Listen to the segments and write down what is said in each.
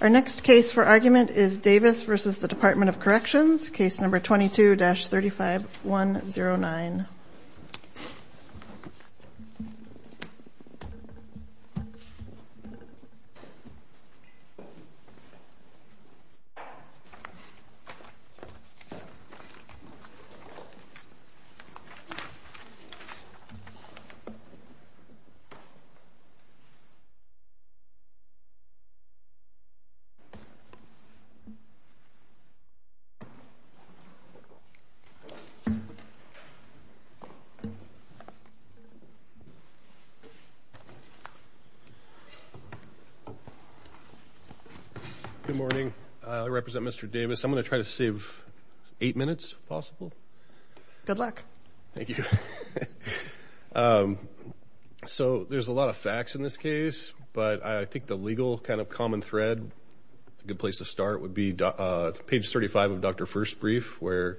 Our next case for argument is Davis v. Department of Corrections, case number 22-35109. Good morning. I represent Mr. Davis. I'm going to try to save eight minutes, if possible. Good luck. Thank you. So there's a lot of facts in this case, but I think the legal kind of common thread, a good place to start, would be page 35 of Dr. First's brief, where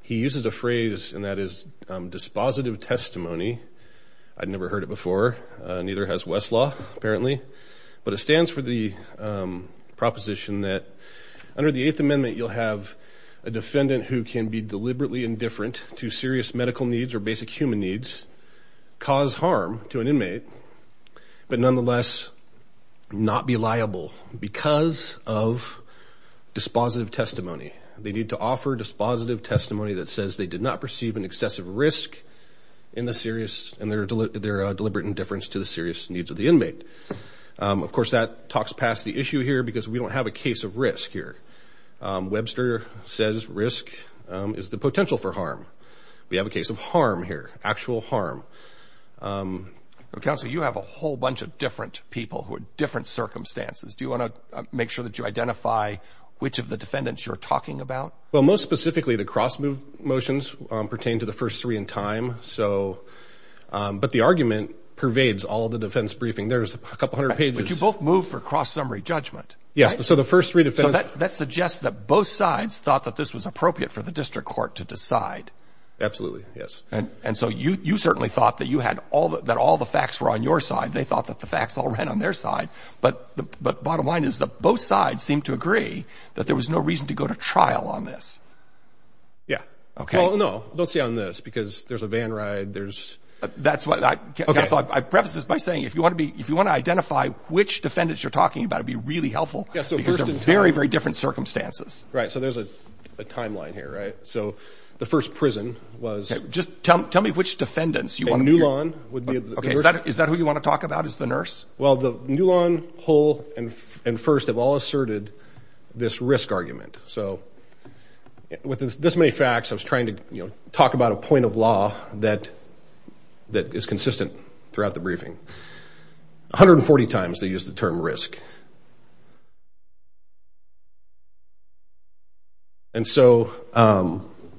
he uses a phrase, and that is dispositive testimony. I'd never heard it before. Neither has Westlaw, apparently. But it stands for the proposition that under the Eighth Amendment, you'll have a defendant who can be deliberately indifferent to serious medical needs or basic human needs, cause harm to an inmate, but nonetheless not be liable because of dispositive testimony. They need to offer dispositive testimony that says they did not perceive an excessive risk in their deliberate indifference to the serious needs of the inmate. Of course, that talks past the issue here because we don't have a case of risk here. Webster says risk is the potential for harm. We have a case of harm here, actual harm. Counsel, you have a whole bunch of different people who are different circumstances. Do you want to make sure that you identify which of the defendants you're talking about? Well, most specifically, the cross-move motions pertain to the first three in time. But the argument pervades all the defense briefing. There's a couple hundred pages. But you both moved for cross-summary judgment. Yes, so the first three defendants... So that suggests that both sides thought that this was appropriate for the district court to decide. Absolutely, yes. And so you certainly thought that all the facts were on your side. They thought that the facts all ran on their side. But bottom line is that both sides seemed to agree that there was no reason to go to trial on this. Yeah. Okay. Well, no, don't say on this because there's a van ride, there's... That's what I... Okay. Counsel, I preface this by saying if you want to identify which defendants you're talking about, it would be really helpful because they're very, very different circumstances. Right, so there's a timeline here, right? So the first prison was... Just tell me which defendants you want to hear. A new lawn would be... Okay, is that who you want to talk about as the nurse? Well, the new lawn, whole, and first have all asserted this risk argument. So with this many facts, I was trying to talk about a point of law that is consistent throughout the briefing. 140 times they used the term risk. And so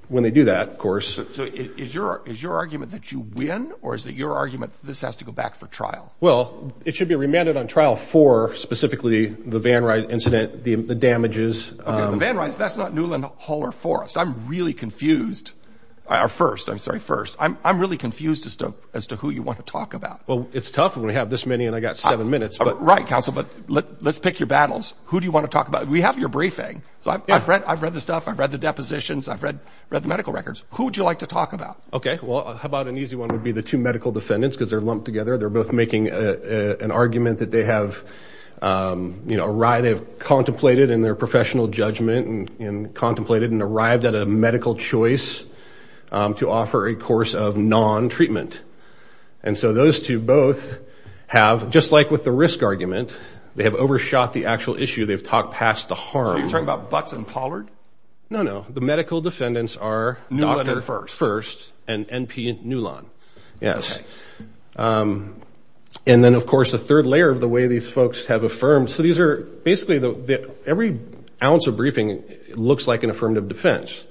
when they do that, of course... So is your argument that you win or is it your argument that this has to go back for trial? Well, it should be remanded on trial for specifically the van ride incident, the damages. Okay, the van rides, that's not Newland Hall or Forrest. I'm really confused. Or first, I'm sorry, first. I'm really confused as to who you want to talk about. Well, it's tough when we have this many and I've got seven minutes. Right, counsel, but let's pick your battles. Who do you want to talk about? We have your briefing. So I've read the stuff. I've read the depositions. I've read the medical records. Who would you like to talk about? Okay, well, how about an easy one would be the two medical defendants because they're lumped together. They're both making an argument that they have contemplated in their professional judgment and contemplated and arrived at a medical choice to offer a course of non-treatment. And so those two both have, just like with the risk argument, they have overshot the actual issue. They've talked past the harm. So you're talking about Butts and Pollard? No, no. The medical defendants are Dr. First and N.P. Newland. Yes. And then, of course, a third layer of the way these folks have affirmed. So these are basically every ounce of briefing looks like an affirmative defense.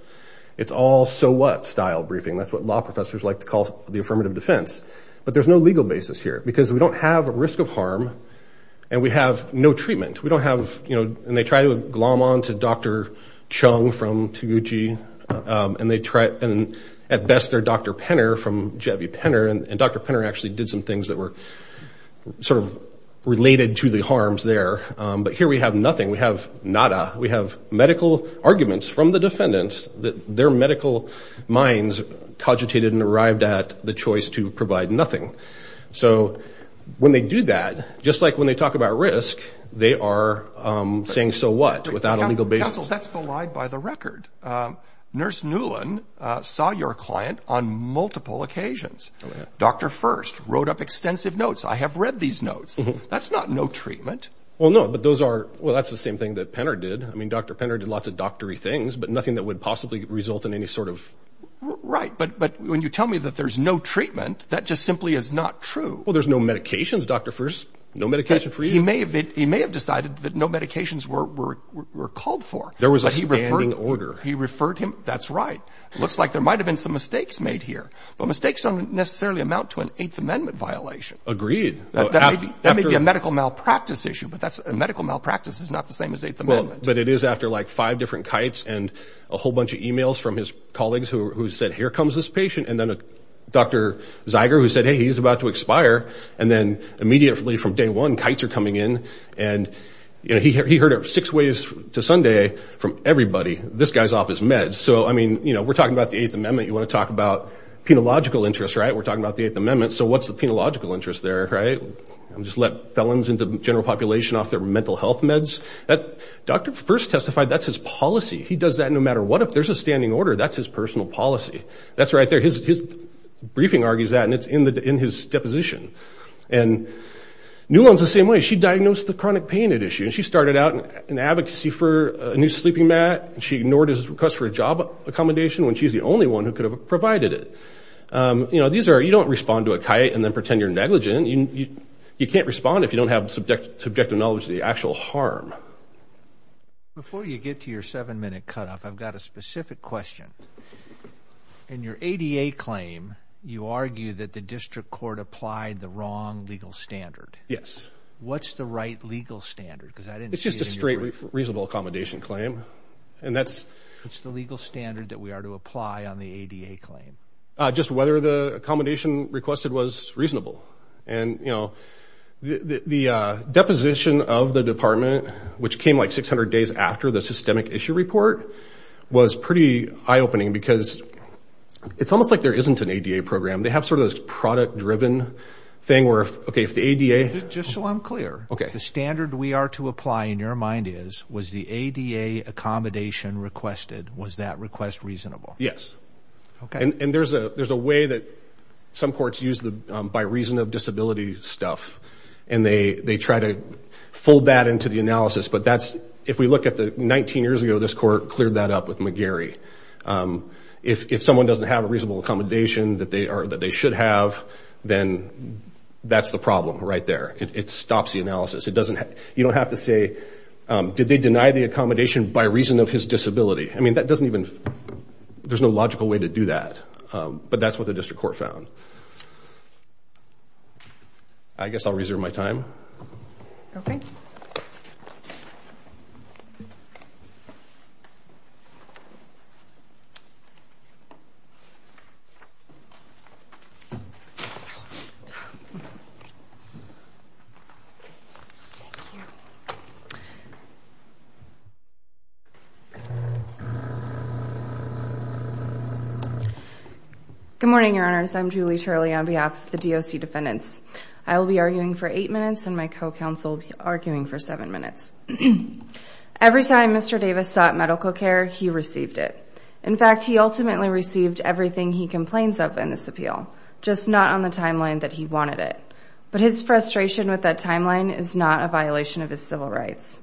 It's all so what style briefing. That's what law professors like to call the affirmative defense. But there's no legal basis here because we don't have a risk of harm and we have no treatment. We don't have, you know, and they try to glom on to Dr. Chung from Toguchi and at best they're Dr. Penner from J.V. Penner. And Dr. Penner actually did some things that were sort of related to the harms there. But here we have nothing. We have nada. We have medical arguments from the defendants that their medical minds cogitated and arrived at the choice to provide nothing. So when they do that, just like when they talk about risk, they are saying so what without a legal basis. Counsel, that's belied by the record. Nurse Newlin saw your client on multiple occasions. Dr. First wrote up extensive notes. I have read these notes. That's not no treatment. Well, no, but those are, well, that's the same thing that Penner did. I mean, Dr. Penner did lots of doctory things, but nothing that would possibly result in any sort of. Right, but when you tell me that there's no treatment, that just simply is not true. Well, there's no medications, Dr. First. No medication for you. He may have decided that no medications were called for. There was a standing order. He referred him. That's right. It looks like there might have been some mistakes made here. But mistakes don't necessarily amount to an Eighth Amendment violation. Agreed. That may be a medical malpractice issue, but medical malpractice is not the same as Eighth Amendment. But it is after like five different kites and a whole bunch of e-mails from his colleagues who said, here comes this patient, and then Dr. Zeiger who said, hey, he's about to expire, and then immediately from day one, kites are coming in. And, you know, he heard it six ways to Sunday from everybody, this guy's off his meds. So, I mean, you know, we're talking about the Eighth Amendment. You want to talk about penological interests, right? We're talking about the Eighth Amendment. So what's the penological interest there, right? Just let felons and the general population off their mental health meds? Dr. First testified that's his policy. He does that no matter what. If there's a standing order, that's his personal policy. That's right there. His briefing argues that, and it's in his deposition. And Newland's the same way. She diagnosed the chronic pain issue, and she started out in advocacy for a new sleeping mat. She ignored his request for a job accommodation when she's the only one who could have provided it. You know, these are – you don't respond to a kite and then pretend you're negligent. You can't respond if you don't have subjective knowledge of the actual harm. Before you get to your seven-minute cutoff, I've got a specific question. In your ADA claim, you argue that the district court applied the wrong legal standard. Yes. What's the right legal standard? Because I didn't see it in your brief. It's just a straight reasonable accommodation claim, and that's – What's the legal standard that we are to apply on the ADA claim? Just whether the accommodation requested was reasonable. And, you know, the deposition of the department, which came like 600 days after the systemic issue report, was pretty eye-opening because it's almost like there isn't an ADA program. They have sort of this product-driven thing where, okay, if the ADA – Just so I'm clear. Okay. The standard we are to apply, in your mind, is was the ADA accommodation requested? Was that request reasonable? Yes. Okay. And there's a way that some courts use the by reason of disability stuff, and they try to fold that into the analysis. But that's – If we look at the – 19 years ago, this court cleared that up with McGarry. If someone doesn't have a reasonable accommodation that they should have, then that's the problem right there. It stops the analysis. It doesn't – You don't have to say, did they deny the accommodation by reason of his disability? I mean, that doesn't even – There's no logical way to do that. But that's what the district court found. I guess I'll reserve my time. Okay. Good morning, Your Honors. I'm Julie Turley on behalf of the DOC defendants. I will be arguing for eight minutes, and my co-counsel will be arguing for seven minutes. Every time Mr. Davis sought medical care, he received it. In fact, he ultimately received everything he complains of in this appeal, just not on the timeline that he wanted it. But his frustration with that timeline is not a violation of his civil rights.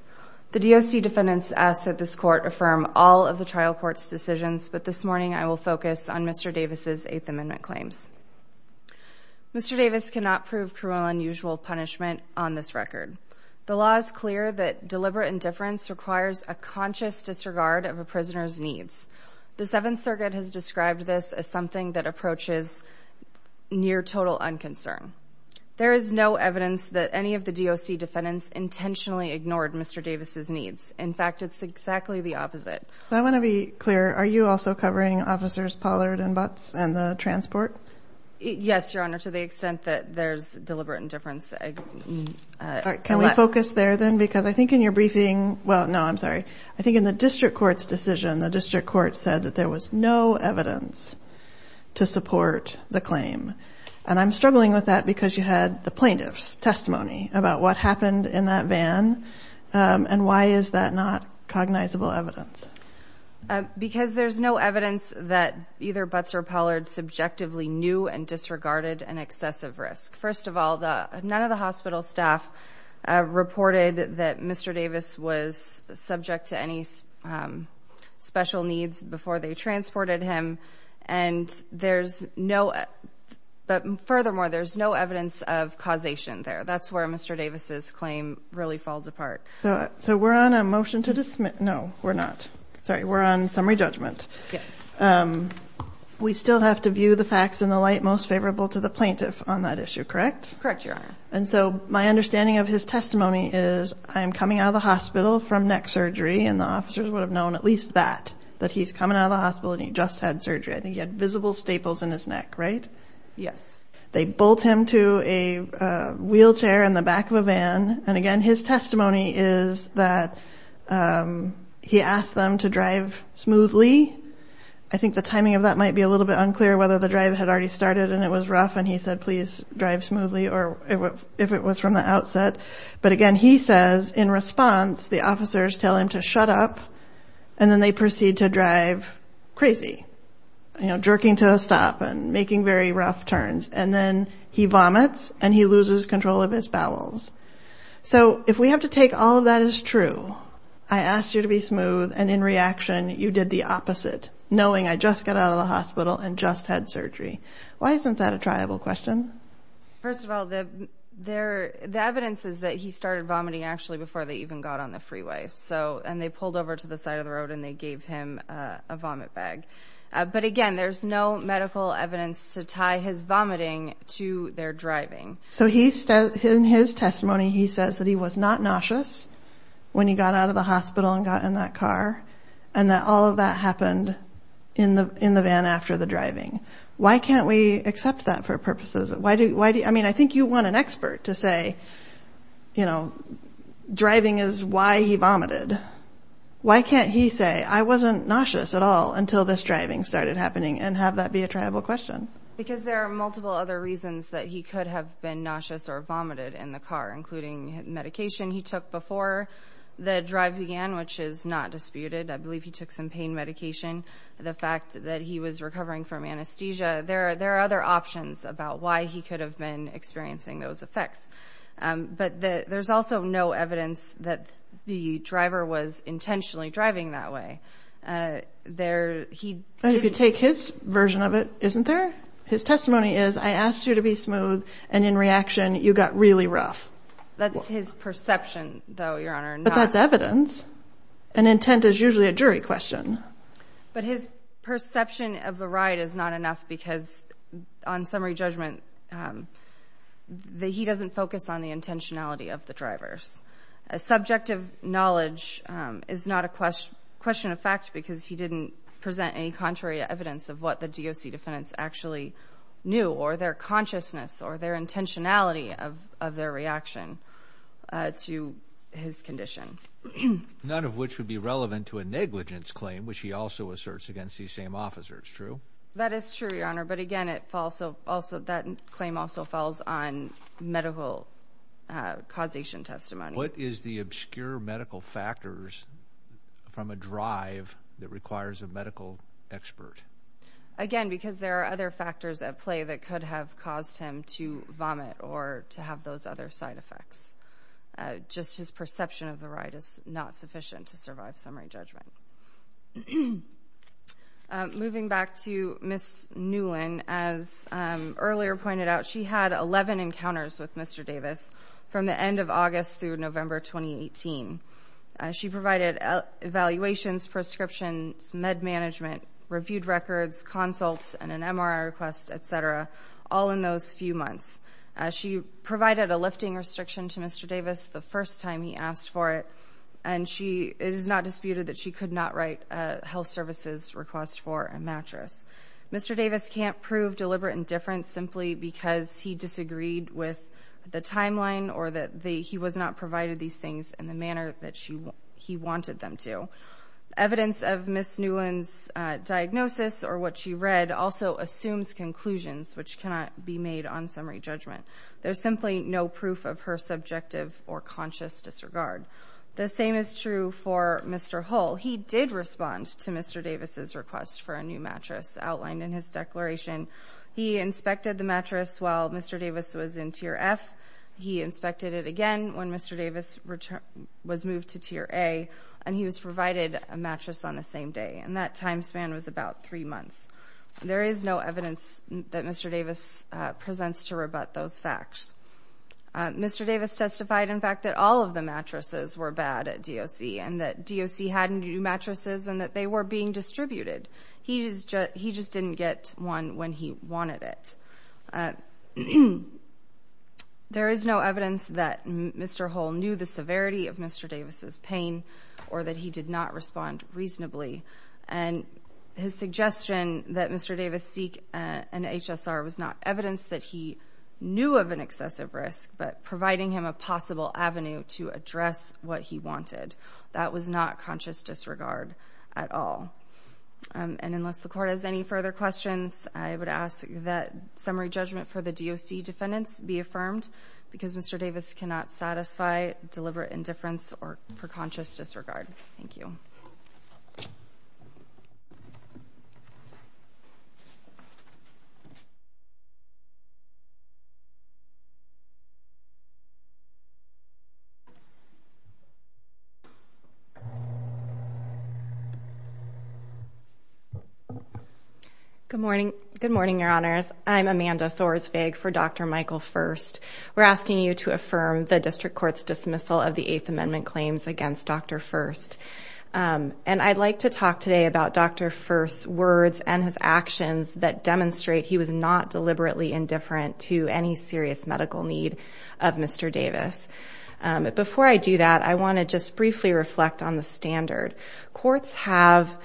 The DOC defendants ask that this court affirm all of the trial court's decisions, but this morning I will focus on Mr. Davis' Eighth Amendment claims. Mr. Davis cannot prove cruel and unusual punishment on this record. The law is clear that deliberate indifference requires a conscious disregard of a prisoner's needs. The Seventh Circuit has described this as something that approaches near total unconcern. There is no evidence that any of the DOC defendants intentionally ignored Mr. Davis' needs. In fact, it's exactly the opposite. I want to be clear. Are you also covering officers Pollard and Butts and the transport? Yes, Your Honor, to the extent that there's deliberate indifference. Can we focus there then? Because I think in your briefing, well, no, I'm sorry. I think in the district court's decision, the district court said that there was no evidence to support the claim. And I'm struggling with that because you had the plaintiff's testimony about what happened in that van, and why is that not cognizable evidence? Because there's no evidence that either Butts or Pollard subjectively knew and disregarded an excessive risk. First of all, none of the hospital staff reported that Mr. Davis was subject to any special needs before they transported him. And there's no, but furthermore, there's no evidence of causation there. That's where Mr. Davis' claim really falls apart. So we're on a motion to dismiss. No, we're not. Sorry, we're on summary judgment. Yes. We still have to view the facts in the light most favorable to the plaintiff on that issue, correct? Correct, Your Honor. And so my understanding of his testimony is I'm coming out of the hospital from neck surgery, and the officers would have known at least that, that he's coming out of the hospital and he just had surgery. I think he had visible staples in his neck, right? Yes. They bolt him to a wheelchair in the back of a van. And, again, his testimony is that he asked them to drive smoothly. I think the timing of that might be a little bit unclear, whether the drive had already started and it was rough, and he said, please drive smoothly, or if it was from the outset. But, again, he says, in response, the officers tell him to shut up, and then they proceed to drive crazy, jerking to a stop and making very rough turns. And then he vomits and he loses control of his bowels. So if we have to take all of that as true, I asked you to be smooth, and, in reaction, you did the opposite, knowing I just got out of the hospital and just had surgery. Why isn't that a triable question? First of all, the evidence is that he started vomiting actually before they even got on the freeway. And they pulled over to the side of the road and they gave him a vomit bag. But, again, there's no medical evidence to tie his vomiting to their driving. So in his testimony, he says that he was not nauseous when he got out of the hospital and got in that car, and that all of that happened in the van after the driving. Why can't we accept that for purposes? I mean, I think you want an expert to say, you know, driving is why he vomited. Why can't he say, I wasn't nauseous at all until this driving started happening, and have that be a triable question? Because there are multiple other reasons that he could have been nauseous or vomited in the car, including medication he took before the drive began, which is not disputed. I believe he took some pain medication, the fact that he was recovering from anesthesia. There are other options about why he could have been experiencing those effects. But there's also no evidence that the driver was intentionally driving that way. But if you take his version of it, isn't there? His testimony is, I asked you to be smooth, and in reaction, you got really rough. That's his perception, though, Your Honor. But that's evidence. And intent is usually a jury question. But his perception of the ride is not enough because, on summary judgment, he doesn't focus on the intentionality of the drivers. Subjective knowledge is not a question of fact because he didn't present any contrary evidence of what the DOC defendants actually knew or their consciousness or their intentionality of their reaction to his condition. None of which would be relevant to a negligence claim, which he also asserts against these same officers, true? That is true, Your Honor. But, again, that claim also falls on medical causation testimony. What is the obscure medical factors from a drive that requires a medical expert? Again, because there are other factors at play that could have caused him to vomit or to have those other side effects. Just his perception of the ride is not sufficient to survive summary judgment. Moving back to Ms. Newlin, as earlier pointed out, she had 11 encounters with Mr. Davis from the end of August through November 2018. She provided evaluations, prescriptions, med management, reviewed records, consults, and an MRI request, et cetera, all in those few months. She provided a lifting restriction to Mr. Davis the first time he asked for it, and it is not disputed that she could not write a health services request for a mattress. Mr. Davis can't prove deliberate indifference simply because he disagreed with the timeline or that he was not provided these things in the manner that he wanted them to. Evidence of Ms. Newlin's diagnosis or what she read also assumes conclusions, which cannot be made on summary judgment. There's simply no proof of her subjective or conscious disregard. The same is true for Mr. Hull. He did respond to Mr. Davis' request for a new mattress outlined in his declaration. He inspected the mattress while Mr. Davis was in Tier F. He inspected it again when Mr. Davis was moved to Tier A, and he was provided a mattress on the same day, and that time span was about three months. There is no evidence that Mr. Davis presents to rebut those facts. Mr. Davis testified, in fact, that all of the mattresses were bad at DOC and that DOC hadn't new mattresses and that they were being distributed. He just didn't get one when he wanted it. There is no evidence that Mr. Hull knew the severity of Mr. Davis' pain or that he did not respond reasonably, and his suggestion that Mr. Davis seek an HSR was not evidence that he knew of an excessive risk but providing him a possible avenue to address what he wanted. That was not conscious disregard at all. And unless the Court has any further questions, I would ask that summary judgment for the DOC defendants be affirmed because Mr. Davis cannot satisfy deliberate indifference for conscious disregard. Thank you. Good morning, Your Honors. I'm Amanda Thorsvig for Dr. Michael Furst. We're asking you to affirm the District Court's dismissal of the Eighth Amendment claims against Dr. Furst. And I'd like to talk today about Dr. Furst's words and his actions that demonstrate he was not deliberately indifferent to any serious medical need of Mr. Davis. Before I do that, I want to just briefly reflect on the standard. Courts have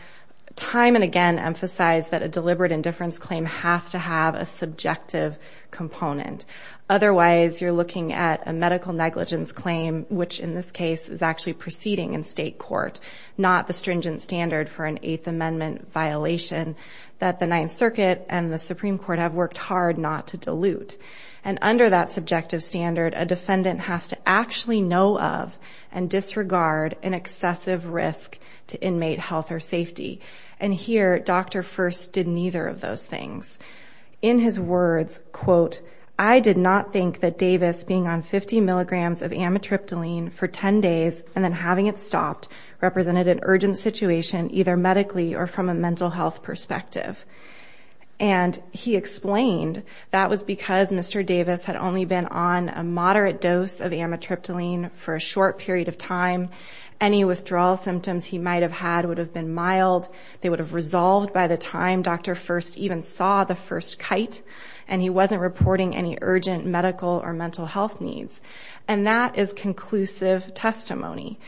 time and again emphasized that a deliberate indifference claim has to have a subjective component. Otherwise, you're looking at a medical negligence claim, which in this case is actually proceeding in state court, not the stringent standard for an Eighth Amendment violation that the Ninth Circuit and the Supreme Court have worked hard not to dilute. And under that subjective standard, a defendant has to actually know of and disregard an excessive risk to inmate health or safety. And here, Dr. Furst did neither of those things. In his words, quote, I did not think that Davis being on 50 milligrams of amitriptyline for 10 days and then having it stopped represented an urgent situation either medically or from a mental health perspective. And he explained that was because Mr. Davis had only been on a moderate dose of amitriptyline for a short period of time. Any withdrawal symptoms he might have had would have been mild. They would have resolved by the time Dr. Furst even saw the first kite. And he wasn't reporting any urgent medical or mental health needs. And that is conclusive testimony.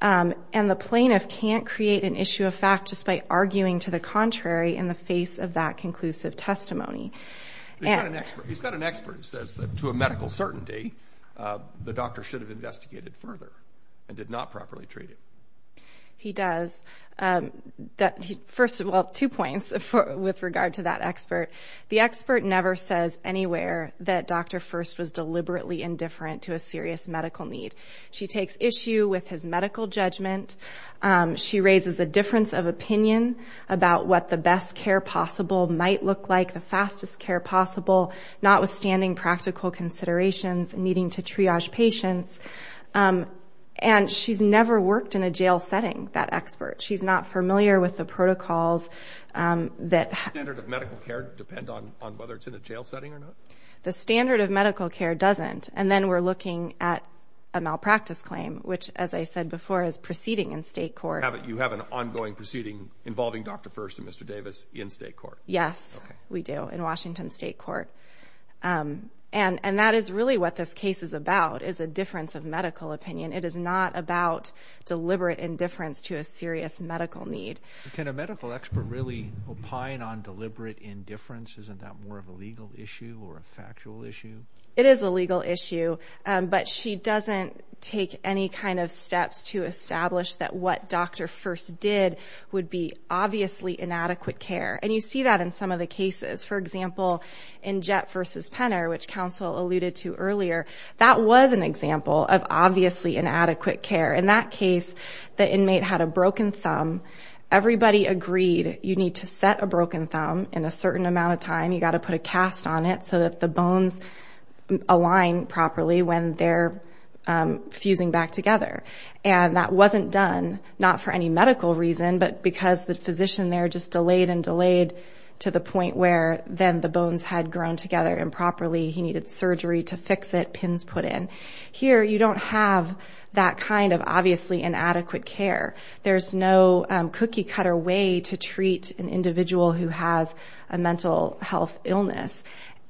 And the plaintiff can't create an issue of fact just by arguing to the contrary in the face of that conclusive testimony. He's got an expert who says that to a medical certainty, the doctor should have investigated further and did not properly treat him. He does. First of all, two points with regard to that expert. The expert never says anywhere that Dr. Furst was deliberately indifferent to a serious medical need. She takes issue with his medical judgment. She raises a difference of opinion about what the best care possible might look like, the fastest care possible, notwithstanding practical considerations and needing to triage patients. And she's never worked in a jail setting, that expert. She's not familiar with the protocols. Does the standard of medical care depend on whether it's in a jail setting or not? The standard of medical care doesn't. And then we're looking at a malpractice claim, which, as I said before, is proceeding in state court. You have an ongoing proceeding involving Dr. Furst and Mr. Davis in state court. Yes, we do, in Washington State Court. And that is really what this case is about, is a difference of medical opinion. It is not about deliberate indifference to a serious medical need. Can a medical expert really opine on deliberate indifference? Isn't that more of a legal issue or a factual issue? It is a legal issue. But she doesn't take any kind of steps to establish that what Dr. Furst did would be obviously inadequate care. And you see that in some of the cases. For example, in Jett v. Penner, which counsel alluded to earlier, that was an example of obviously inadequate care. In that case, the inmate had a broken thumb. Everybody agreed you need to set a broken thumb in a certain amount of time. You've got to put a cast on it so that the bones align properly when they're fusing back together. And that wasn't done, not for any medical reason, but because the physician there just delayed and delayed to the point where then the bones had grown together improperly. He needed surgery to fix it, pins put in. Here, you don't have that kind of obviously inadequate care. There's no cookie-cutter way to treat an individual who has a mental health illness.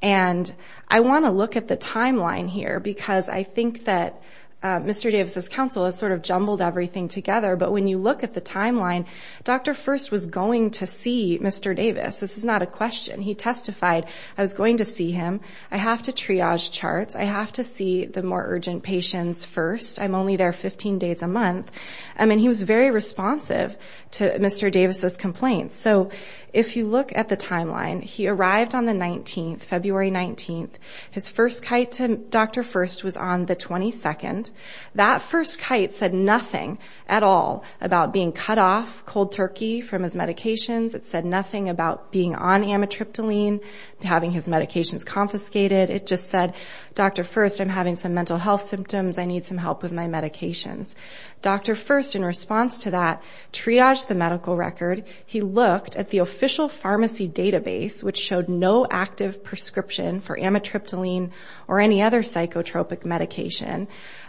And I want to look at the timeline here because I think that Mr. Davis' counsel has sort of jumbled everything together. But when you look at the timeline, Dr. Furst was going to see Mr. Davis. This is not a question. He testified, I was going to see him. I have to triage charts. I have to see the more urgent patients first. I'm only there 15 days a month. I mean, he was very responsive to Mr. Davis' complaints. So if you look at the timeline, he arrived on the 19th, February 19th. His first kite to Dr. Furst was on the 22nd. That first kite said nothing at all about being cut off, cold turkey, from his medications. It said nothing about being on amitriptyline, having his medications confiscated. It just said, Dr. Furst, I'm having some mental health symptoms. I need some help with my medications. Dr. Furst, in response to that, triaged the medical record. He looked at the official pharmacy database, which showed no active prescription for amitriptyline or any other psychotropic medication.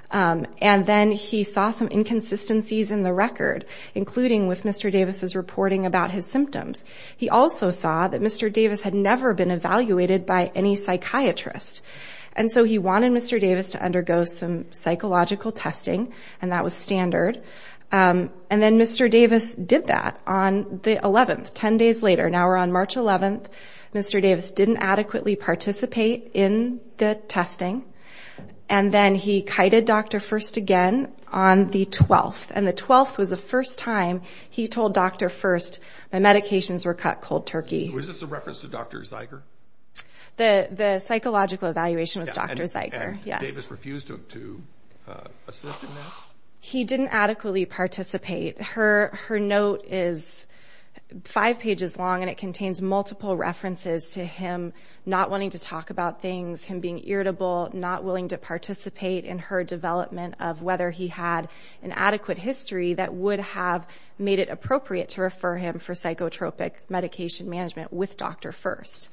And then he saw some inconsistencies in the record, including with Mr. Davis' reporting about his symptoms. He also saw that Mr. Davis had never been evaluated by any psychiatrist. And so he wanted Mr. Davis to undergo some psychological testing, and that was standard. And then Mr. Davis did that on the 11th, 10 days later. Now we're on March 11th. Mr. Davis didn't adequately participate in the testing. And then he kited Dr. Furst again on the 12th. And the 12th was the first time he told Dr. Furst, my medications were cut, cold turkey. Was this a reference to Dr. Zeiger? The psychological evaluation was Dr. Zeiger, yes. And Davis refused to assist in that? He didn't adequately participate. Her note is five pages long, and it contains multiple references to him not wanting to talk about things, him being irritable, not willing to participate in her development of whether he had an adequate history that would have made it appropriate to refer him for psychotropic medication management with Dr. Furst.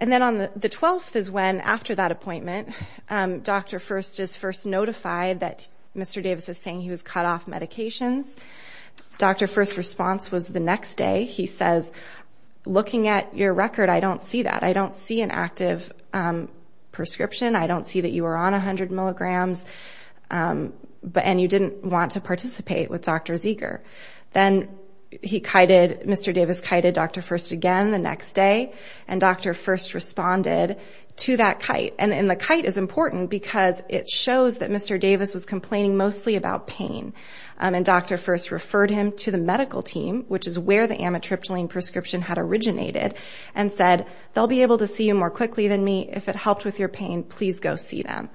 And then on the 12th is when, after that appointment, Dr. Furst is first notified that Mr. Davis is saying he was cut off medications. Dr. Furst's response was the next day. He says, looking at your record, I don't see that. I don't see an active prescription. I don't see that you were on 100 milligrams, and you didn't want to participate with Dr. Zeiger. Then he kited, Mr. Davis kited Dr. Furst again the next day, and Dr. Furst responded to that kite. And the kite is important because it shows that Mr. Davis was complaining mostly about pain. And Dr. Furst referred him to the medical team, which is where the amitriptyline prescription had originated, and said, they'll be able to see you more quickly than me. If it helped with your pain, please go see them.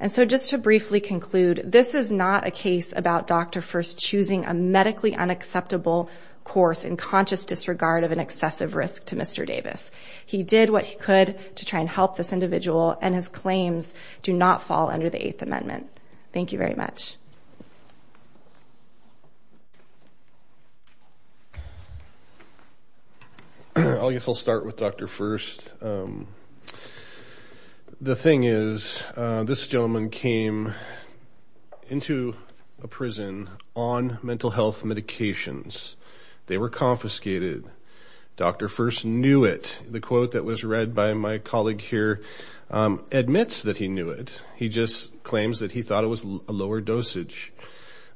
And so just to briefly conclude, this is not a case about Dr. Furst choosing a medically unacceptable course in conscious disregard of an excessive risk to Mr. Davis. He did what he could to try and help this individual, and his claims do not fall under the Eighth Amendment. Thank you very much. I guess I'll start with Dr. Furst. The thing is, this gentleman came into a prison on mental health medications. They were confiscated. Dr. Furst knew it. The quote that was read by my colleague here admits that he knew it. He just claims that he thought it was a lower dosage.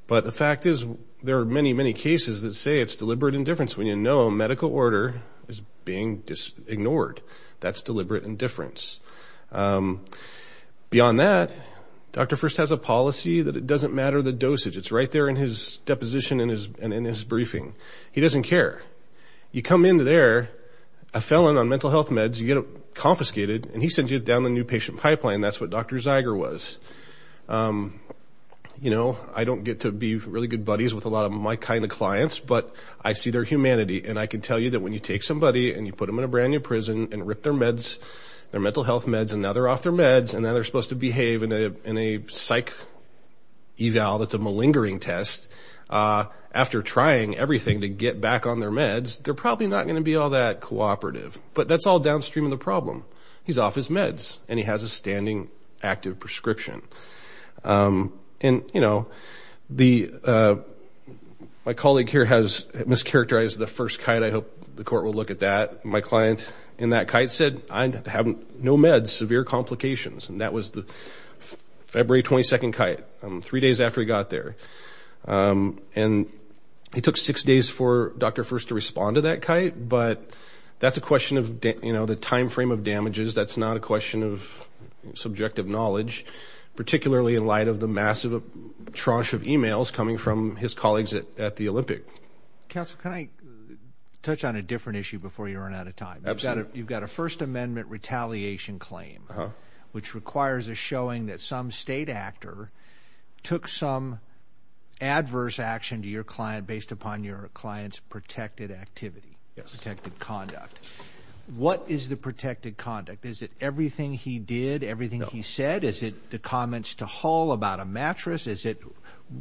But the fact is, there are many, many cases that say it's deliberate indifference when you know medical order is being ignored. That's deliberate indifference. Beyond that, Dr. Furst has a policy that it doesn't matter the dosage. It's right there in his deposition and in his briefing. He doesn't care. You come in there, a felon on mental health meds, you get confiscated, and he sends you down the new patient pipeline. That's what Dr. Zeiger was. You know, I don't get to be really good buddies with a lot of my kind of clients, but I see their humanity. And I can tell you that when you take somebody and you put them in a brand-new prison and rip their meds, their mental health meds, and now they're off their meds, and now they're supposed to behave in a psych eval that's a malingering test, after trying everything to get back on their meds, they're probably not going to be all that cooperative. But that's all downstream of the problem. He's off his meds, and he has a standing active prescription. And, you know, my colleague here has mischaracterized the first kite. I hope the court will look at that. My client in that kite said, I have no meds, severe complications. And that was the February 22nd kite, three days after he got there. And he took six days for Dr. First to respond to that kite, but that's a question of, you know, the time frame of damages. That's not a question of subjective knowledge, particularly in light of the massive tranche of e-mails coming from his colleagues at the Olympic. Counsel, can I touch on a different issue before you run out of time? Absolutely. You've got a First Amendment retaliation claim, which requires a showing that some state actor took some adverse action to your client based upon your client's protected activity, protected conduct. What is the protected conduct? Is it everything he did, everything he said? Is it the comments to Hull about a mattress?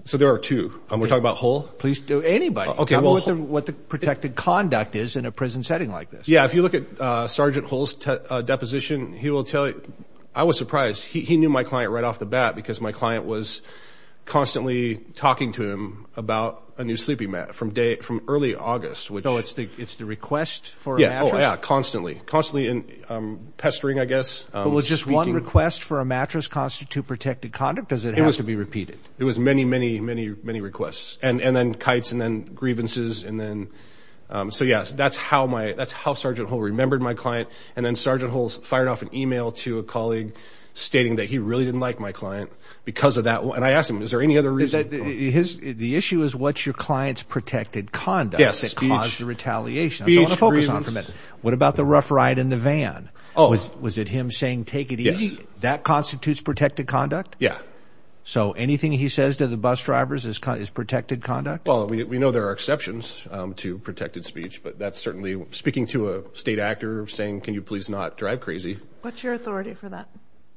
So there are two. We're talking about Hull? Anybody. Tell me what the protected conduct is in a prison setting like this. Yeah, if you look at Sergeant Hull's deposition, he will tell you. I was surprised. He knew my client right off the bat because my client was constantly talking to him about a new sleeping mat from early August. So it's the request for a mattress? Yeah, constantly. Constantly pestering, I guess. Was just one request for a mattress constitute protected conduct? Or does it have to be repeated? It was many, many, many, many requests. And then kites and then grievances. So, yes, that's how Sergeant Hull remembered my client. And then Sergeant Hull fired off an email to a colleague stating that he really didn't like my client because of that. And I asked him, is there any other reason? The issue is what's your client's protected conduct that caused the retaliation. I want to focus on for a minute. What about the rough ride in the van? Was it him saying, take it easy? That constitutes protected conduct? Yeah. So anything he says to the bus drivers is protected conduct? Well, we know there are exceptions to protected speech. But that's certainly speaking to a state actor, saying, can you please not drive crazy. What's your authority for that?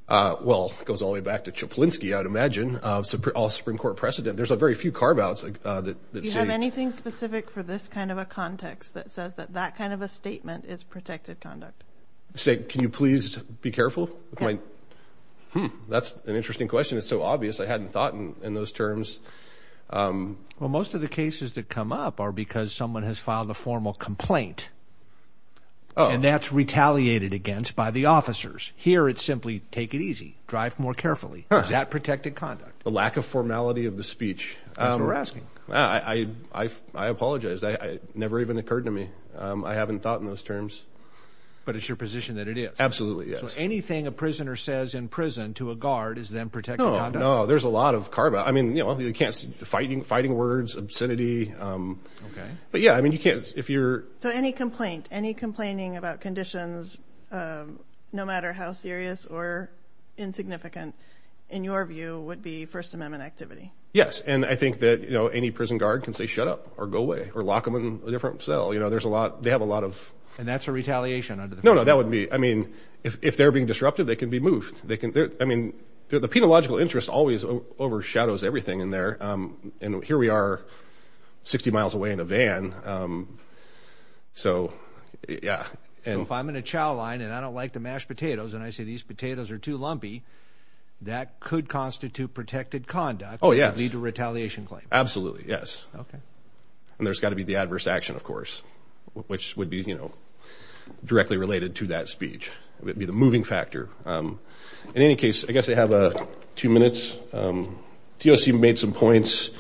Well, it goes all the way back to Czaplinski, I would imagine, all Supreme Court precedent. There's very few carve-outs that say. Do you have anything specific for this kind of a context that says that that kind of a statement is protected conduct? Say, can you please be careful? Okay. Hmm. That's an interesting question. It's so obvious I hadn't thought in those terms. Well, most of the cases that come up are because someone has filed a formal complaint. Oh. And that's retaliated against by the officers. Here it's simply, take it easy, drive more carefully. That's protected conduct. The lack of formality of the speech. That's what we're asking. I apologize. That never even occurred to me. I haven't thought in those terms. But it's your position that it is? Absolutely, yes. So anything a prisoner says in prison to a guard is then protected conduct? No, no. There's a lot of carve-out. I mean, you know, fighting words, obscenity. Okay. But, yeah, I mean, you can't, if you're... So any complaint, any complaining about conditions, no matter how serious or insignificant, in your view, would be First Amendment activity? Yes, and I think that, you know, any prison guard can say shut up or go away or lock them in a different cell. You know, there's a lot, they have a lot of... And that's a retaliation under the First Amendment? No, no, that wouldn't be. I mean, if they're being disruptive, they can be moved. I mean, the penological interest always overshadows everything in there. And here we are 60 miles away in a van, so, yeah. So if I'm in a chow line and I don't like to mash potatoes and I say these potatoes are too lumpy, that could constitute protected conduct. Oh, yes. And lead to a retaliation claim? Absolutely, yes. Okay. And there's got to be the adverse action, of course, which would be, you know, directly related to that speech. It would be the moving factor. In any case, I guess I have two minutes. TOC made some points.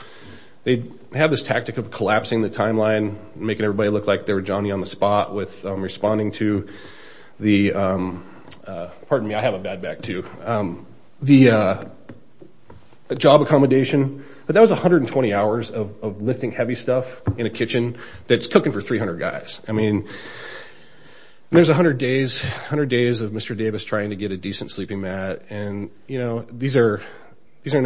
They have this tactic of collapsing the timeline, making everybody look like they were Johnny on the spot with responding to the... Pardon me, I have a bad back, too. The job accommodation, that was 120 hours of lifting heavy stuff in a kitchen that's cooking for 300 guys. I mean, there's 100 days of Mr. Davis trying to get a decent sleeping mat, and, you know, these are not...